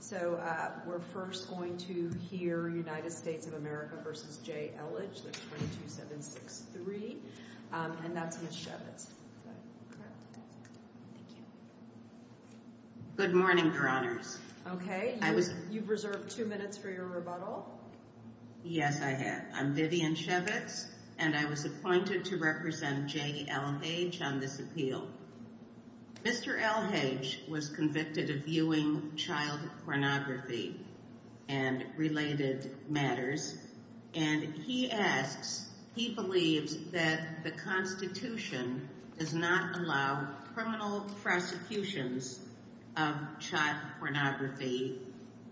So we're first going to hear United States of America v. J. Elhage. That's 22763. And that's Ms. Shevitz. Good morning, Your Honors. Okay. You've reserved two minutes for your rebuttal. Yes, I have. I'm Vivian Shevitz, and I was appointed to represent J. Elhage on this appeal. Mr. Elhage was convicted of viewing child pornography and related matters, and he asks, he believes that the Constitution does not allow criminal prosecutions of child pornography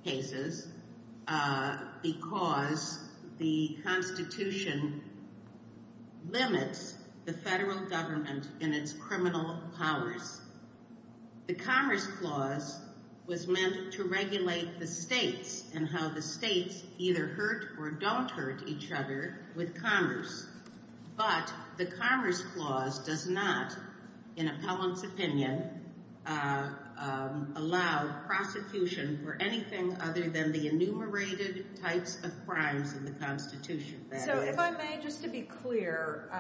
cases because the Constitution limits the federal government in its criminal powers. The Commerce Clause was meant to regulate the states and how the states either hurt or don't hurt each other with commerce. But the Commerce Clause does not, in appellant's opinion, allow prosecution for anything other than the enumerated types of crimes in the Constitution. So if I may, just to be clear,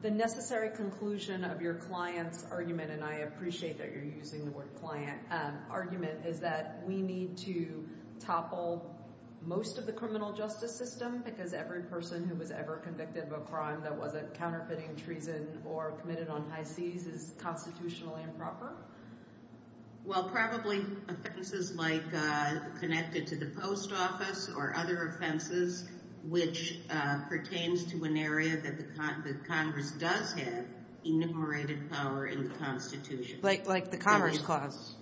the necessary conclusion of your client's argument, and I appreciate that you're using the word client, argument is that we need to topple most of the criminal justice system because every person who was ever convicted of a crime that wasn't counterfeiting, treason, or committed on high seas is constitutionally improper? Well, probably offenses like connected to the post office or other offenses which pertains to an area that the Congress does have enumerated power in the Constitution. Like the Commerce Clause?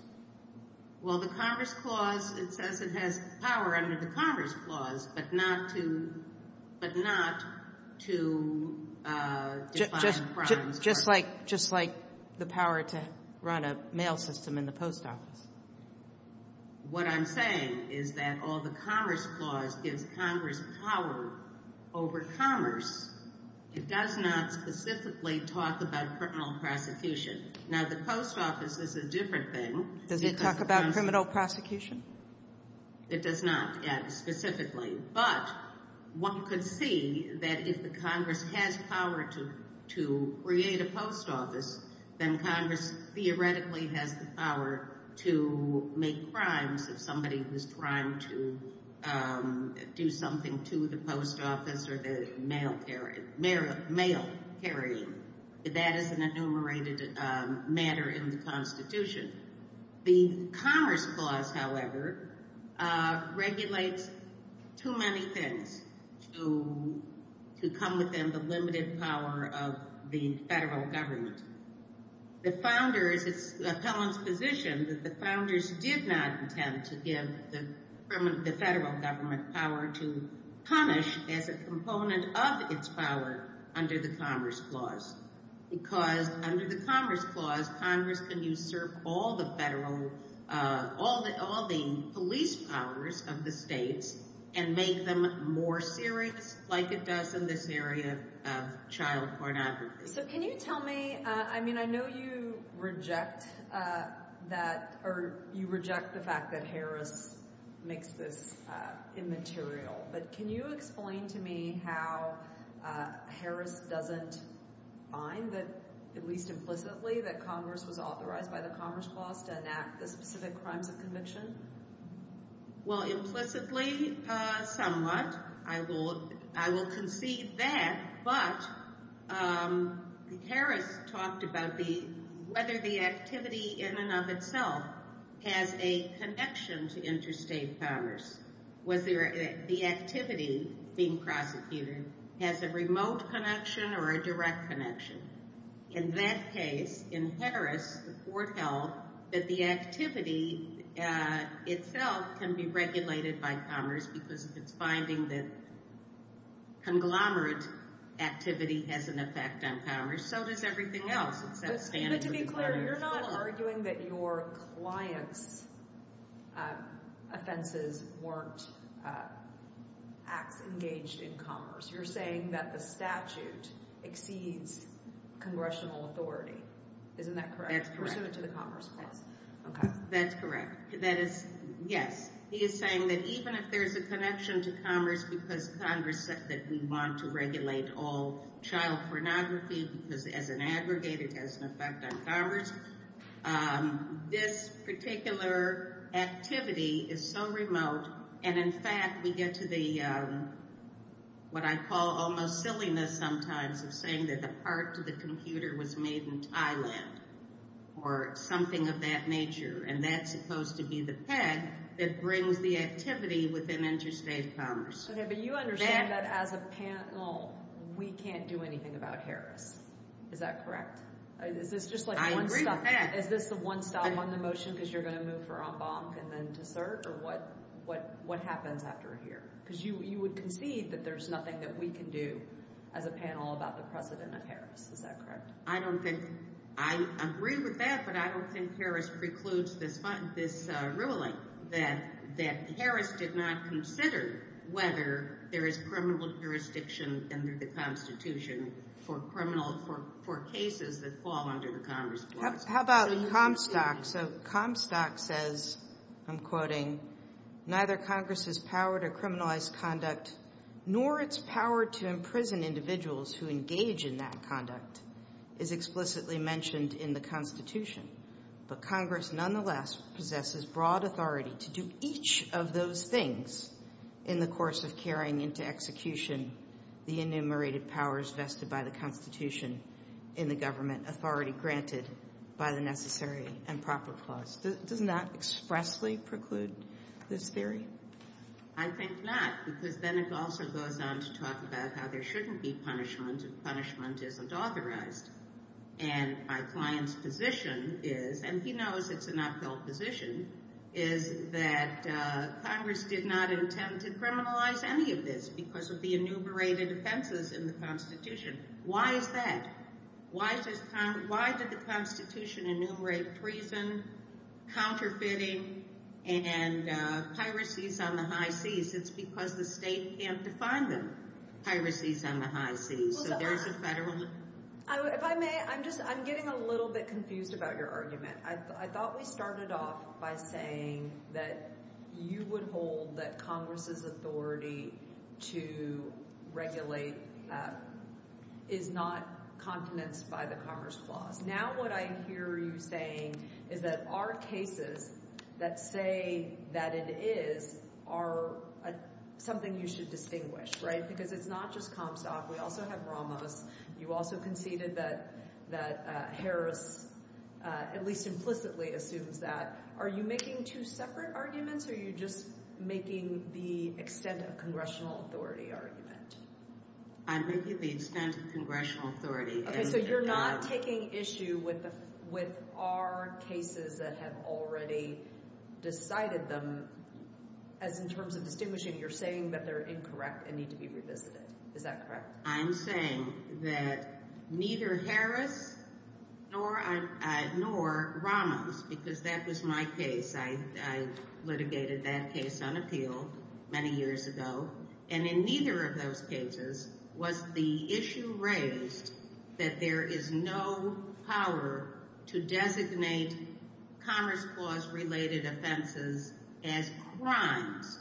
Well, the Commerce Clause, it says it has power under the Commerce Clause, but not to define crimes. Just like the power to run a mail system in the post office? What I'm saying is that although the Commerce Clause gives Congress power over commerce, it does not specifically talk about criminal prosecution. Now, the post office is a different thing. Does it talk about criminal prosecution? It does not specifically, but one could see that if the Congress has power to create a post office, then Congress theoretically has the power to make crimes if somebody was trying to do something to the post office or the mail carrying. That is an enumerated matter in the Constitution. The Commerce Clause, however, regulates too many things to come within the limited power of the federal government. The founders, it's the appellant's position that the founders did not intend to give the federal government power to punish as a component of its power under the Commerce Clause. Because under the Commerce Clause, Congress can usurp all the federal, all the police powers of the states and make them more serious like it does in this area of child pornography. So can you tell me, I mean I know you reject that, or you reject the fact that Harris makes this immaterial, but can you explain to me how Harris doesn't find that, at least implicitly, that Congress was authorized by the Commerce Clause to enact the specific crimes of conviction? Well, implicitly, somewhat. I will concede that, but Harris talked about whether the activity in and of itself has a connection to interstate commerce. Whether the activity being prosecuted has a remote connection or a direct connection. In that case, in Harris, the court held that the activity itself can be regulated by commerce because it's finding that conglomerate activity has an effect on commerce, so does everything else. But to be clear, you're not arguing that your clients' offenses weren't acts engaged in commerce. You're saying that the statute exceeds congressional authority. Isn't that correct? That's correct. Pursuant to the Commerce Clause. This particular activity is so remote, and in fact, we get to the, what I call almost silliness sometimes, of saying that the part to the computer was made in Thailand, or something of that nature. And that's supposed to be the peg that brings the activity within interstate commerce. Okay, but you understand that as a panel, we can't do anything about Harris. Is that correct? I agree with that. Is this the one stop on the motion because you're going to move for en banc and then to cert, or what happens after a year? Because you would concede that there's nothing that we can do as a panel about the precedent of Harris. Is that correct? I agree with that, but I don't think Harris precludes this ruling, that Harris did not consider whether there is criminal jurisdiction under the Constitution for cases that fall under the Commerce Clause. How about Comstock? So Comstock says, I'm quoting, I think not, because then it also goes on to talk about how there shouldn't be punishment if punishment isn't authorized. And my client's position is, and he knows it's an uphill position, is that Congress did not intend to criminalize any of this because of the enumerated offenses in the Constitution. Why is that? Why did the Constitution enumerate prison, counterfeiting, and piracies on the high seas? It's because the state can't define them, piracies on the high seas. If I may, I'm just, I'm getting a little bit confused about your argument. I thought we started off by saying that you would hold that Congress's authority to regulate is not continence by the Commerce Clause. Now what I hear you saying is that our cases that say that it is are something you should distinguish, right, because it's not just Comstock. We also have Ramos. You also conceded that Harris, at least implicitly, assumes that. Are you making two separate arguments or are you just making the extent of congressional authority argument? I'm making the extent of congressional authority. Okay, so you're not taking issue with our cases that have already decided them as in terms of distinguishing. You're saying that they're incorrect and need to be revisited. Is that correct? I'm saying that neither Harris nor Ramos, because that was my case. I litigated that case on appeal many years ago. And in neither of those cases was the issue raised that there is no power to designate Commerce Clause related offenses as crimes.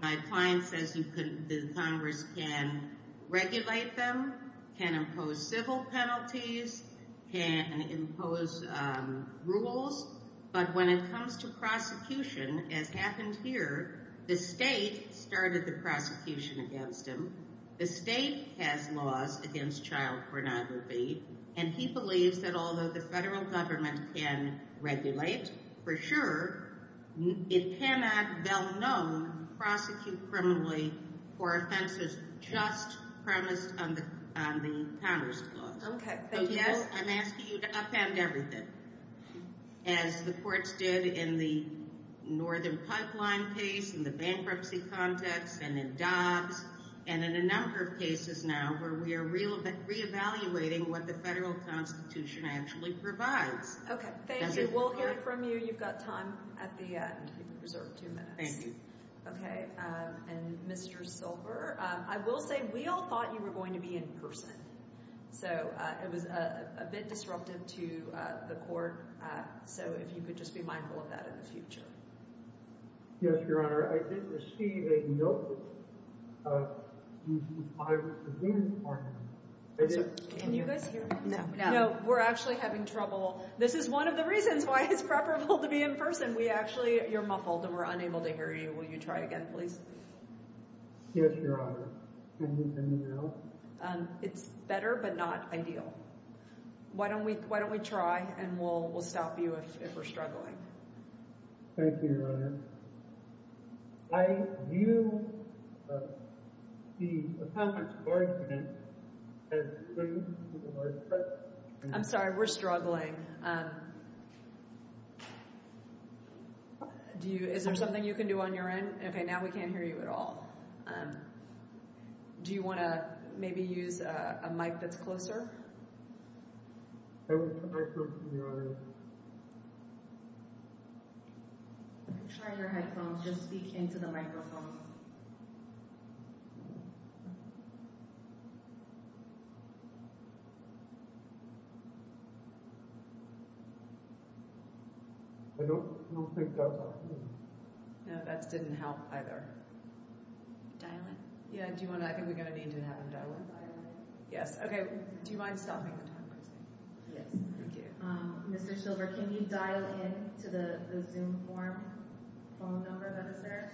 My client says the Congress can regulate them, can impose civil penalties, can impose rules. But when it comes to prosecution, as happened here, the state started the prosecution against him. The state has laws against child pornography, and he believes that although the federal government can regulate for sure, it cannot, well known, prosecute criminally for offenses just premised on the Commerce Clause. Okay, thank you. I'm asking you to upend everything, as the courts did in the Northern Pipeline case, in the bankruptcy context, and in Dobbs, and in a number of cases now where we are reevaluating what the federal Constitution actually provides. Okay, thank you. We'll hear from you. You've got time at the end. You can reserve two minutes. Thank you. Okay, and Mr. Silver, I will say we all thought you were going to be in person. So it was a bit disruptive to the court, so if you could just be mindful of that in the future. Yes, Your Honor. I did receive a note. Can you guys hear me? No. No, we're actually having trouble. This is one of the reasons why it's preferable to be in person. We actually, you're muffled, and we're unable to hear you. Will you try again, please? Yes, Your Honor. Can you hear me now? No. It's better, but not ideal. Why don't we try, and we'll stop you if we're struggling. Thank you, Your Honor. I view the appellant's argument as leading to the worst case. I'm sorry, we're struggling. Is there something you can do on your end? Okay, now we can't hear you at all. Do you want to maybe use a mic that's closer? I will try first, Your Honor. Try your headphones. Just speak into the microphone. I don't think that's helping. No, that didn't help either. Dial in. Yeah, do you want to? I think we're going to need to have him dial in. Dial in. Yes, okay. Do you mind stopping the time, please? Yes. Thank you. Mr. Silver, can you dial in to the Zoom form, phone number that is there?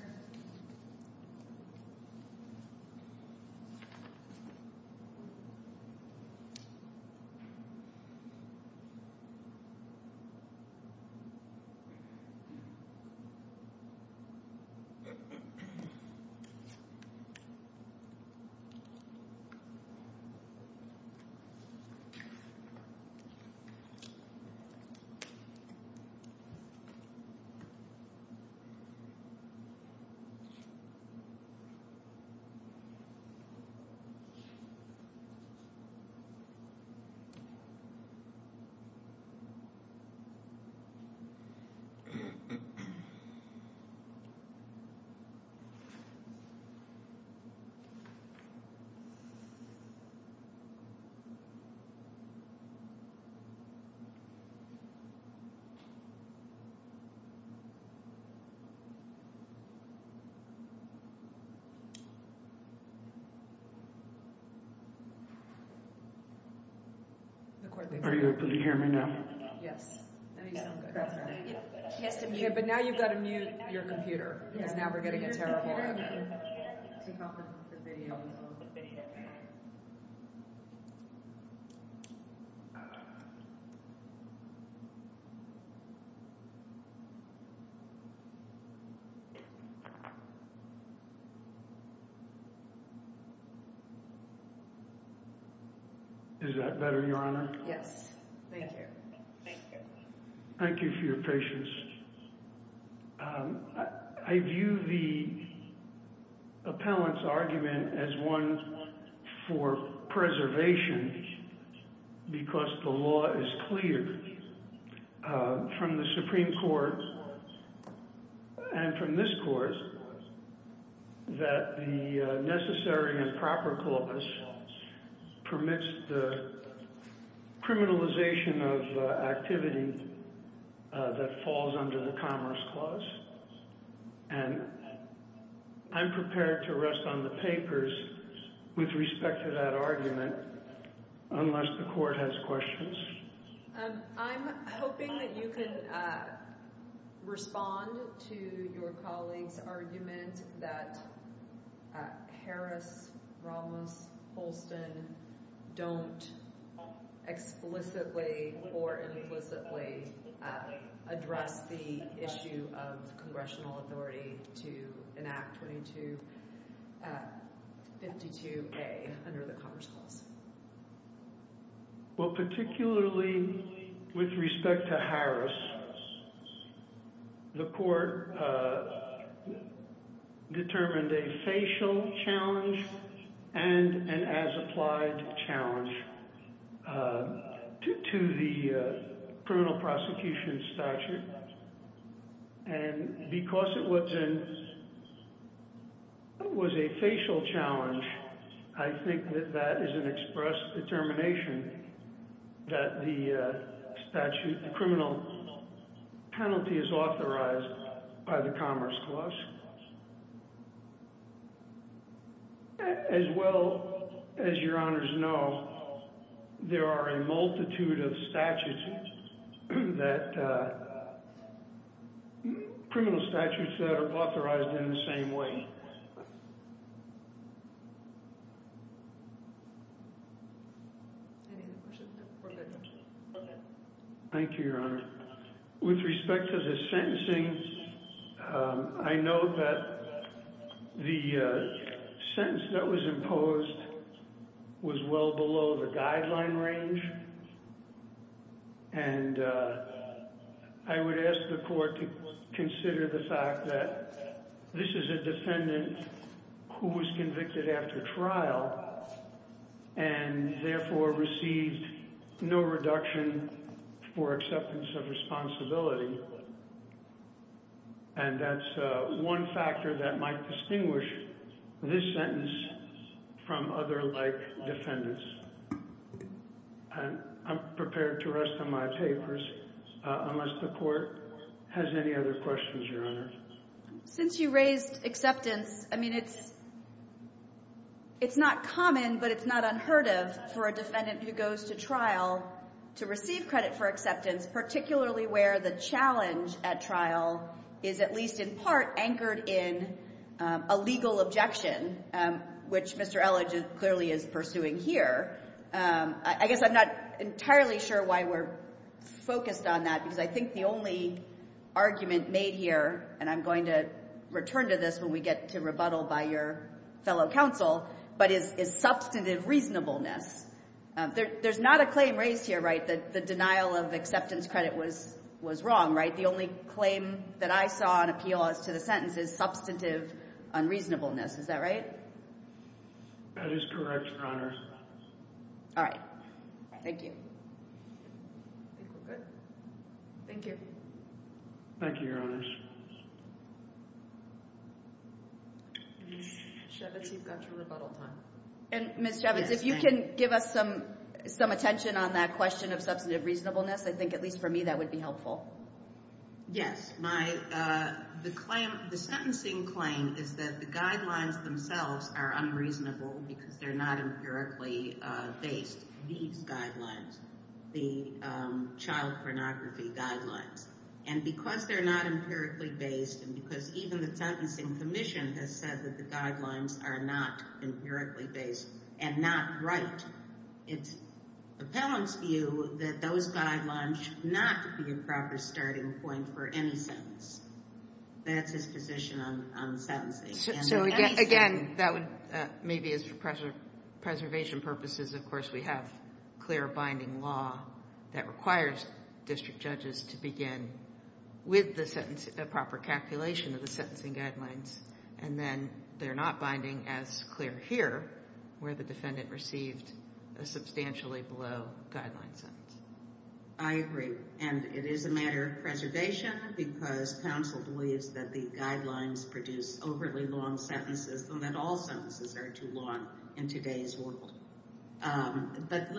Okay. Are you able to hear me now? Yes. But now you've got to mute your computer, because now we're getting a terrible audio. Can you help us with the video? Is that better, Your Honor? Yes. Thank you. Thank you for your patience. I view the appellant's argument as one for preservation, because the law is clear from the Supreme Court and from this court, that the necessary and proper corpus permits the criminalization of activity that falls under the Commerce Clause. And I'm prepared to rest on the papers with respect to that argument, unless the court has questions. I'm hoping that you can respond to your colleague's argument that Harris, Ramos, Holston don't explicitly or implicitly address the issue of congressional authority to enact 22-52A under the Commerce Clause. Well, particularly with respect to Harris, the court determined a facial challenge and an as-applied challenge to the criminal prosecution statute. And because it was a facial challenge, I think that that is an express determination that the criminal penalty is authorized by the Commerce Clause. As well, as Your Honors know, there are a multitude of criminal statutes that are authorized in the same way. Thank you, Your Honor. With respect to the sentencing, I know that the sentence that was imposed was well below the guideline range. And I would ask the court to consider the fact that this is a defendant who was convicted after trial and therefore received no reduction for acceptance of responsibility. And that's one factor that might distinguish this sentence from other like defendants. And I'm prepared to rest on my papers, unless the court has any other questions, Your Honor. Since you raised acceptance, I mean, it's not common, but it's not unheard of for a defendant who goes to trial to receive credit for acceptance, particularly where the challenge at trial is at least in part anchored in a legal objection, which Mr. Elledge clearly is pursuing here. I guess I'm not entirely sure why we're focused on that, because I think the only argument made here, and I'm going to return to this when we get to rebuttal by your fellow counsel, but is substantive reasonableness. There's not a claim raised here, right, that the denial of acceptance credit was wrong, right? The only claim that I saw on appeal as to the sentence is substantive unreasonableness. Is that right? That is correct, Your Honor. All right. Thank you. I think we're good. Thank you. Thank you, Your Honors. Ms. Shevitz, you've got your rebuttal time. And Ms. Shevitz, if you can give us some attention on that question of substantive reasonableness, I think at least for me that would be helpful. Yes. The sentencing claim is that the guidelines themselves are unreasonable because they're not empirically based. These guidelines, the child pornography guidelines. And because they're not empirically based and because even the Sentencing Commission has said that the guidelines are not empirically based and not right, it's appellant's view that those guidelines should not be a proper starting point for any sentence. That's his position on sentencing. So again, that would maybe as for preservation purposes, of course, we have clear binding law that requires district judges to begin with the proper calculation of the sentencing guidelines. And then they're not binding as clear here where the defendant received a substantially below guideline sentence. I agree. And it is a matter of preservation because counsel believes that the guidelines produce overly long sentences and that all sentences are too long in today's world. But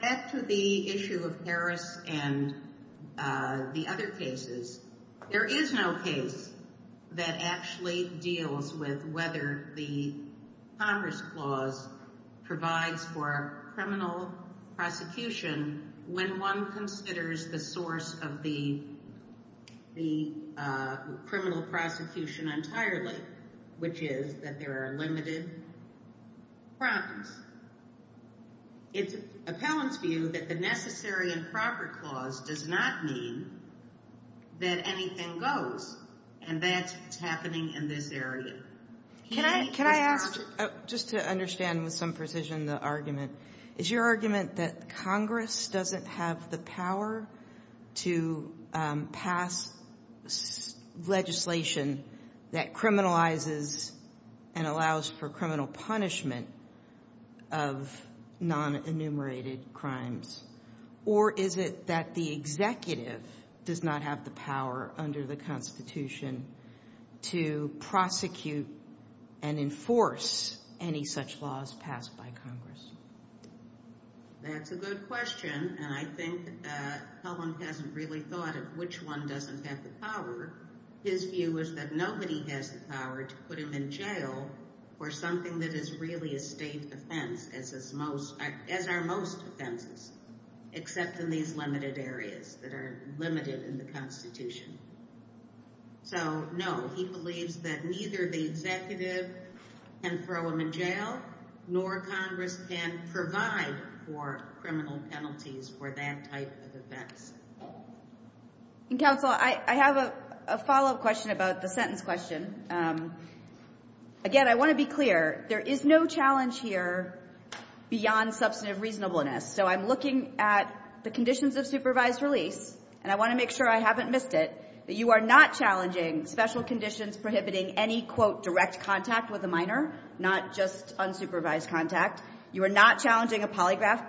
back to the issue of Harris and the other cases, there is no case that actually deals with whether the Congress clause provides for a criminal prosecution when one considers the source of the criminal prosecution entirely, which is that there are limited problems. It's appellant's view that the necessary and proper clause does not mean that anything goes. And that's what's happening in this area. Can I ask, just to understand with some precision the argument, is your argument that Congress doesn't have the power to pass legislation that criminalizes and allows for criminal punishment of non-enumerated crimes? Or is it that the executive does not have the power under the Constitution to prosecute and enforce any such laws passed by Congress? That's a good question. And I think Helen hasn't really thought of which one doesn't have the power. His view is that nobody has the power to put him in jail for something that is really a state offense, as are most offenses, except in these limited areas that are limited in the Constitution. So, no, he believes that neither the executive can throw him in jail, nor Congress can provide for criminal penalties for that type of offense. Counsel, I have a follow-up question about the sentence question. Again, I want to be clear, there is no challenge here beyond substantive reasonableness. So I'm looking at the conditions of supervised release, and I want to make sure I haven't missed it, that you are not challenging special conditions prohibiting any, quote, direct contact with a minor, not just unsupervised contact. You are not challenging a polygraph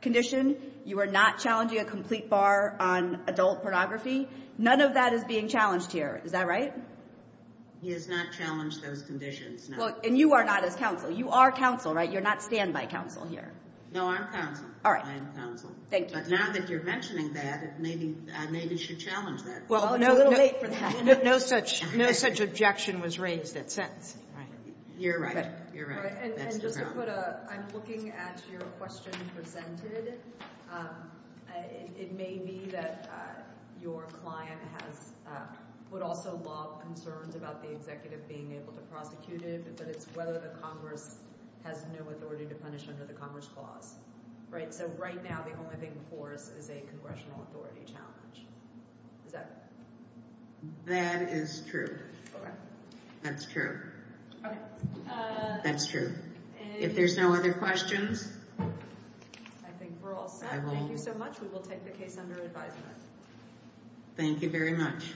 condition. You are not challenging a complete bar on adult pornography. None of that is being challenged here. Is that right? He has not challenged those conditions, no. And you are not his counsel. You are counsel, right? You're not standby counsel here. No, I'm counsel. All right. I am counsel. Thank you. But now that you're mentioning that, maybe I should challenge that. Well, it's a little late for that. No such objection was raised at sentence. You're right. You're right. And just to put a – I'm looking at your question presented. It may be that your client has – would also love concerns about the executive being able to prosecute it, but it's whether the Congress has no authority to punish under the Congress clause, right? So right now, the only thing before us is a congressional authority challenge. Is that right? That is true. Okay. That's true. Okay. That's true. If there's no other questions – I think we're all set. I will – Thank you so much. We will take the case under advisement. Thank you very much.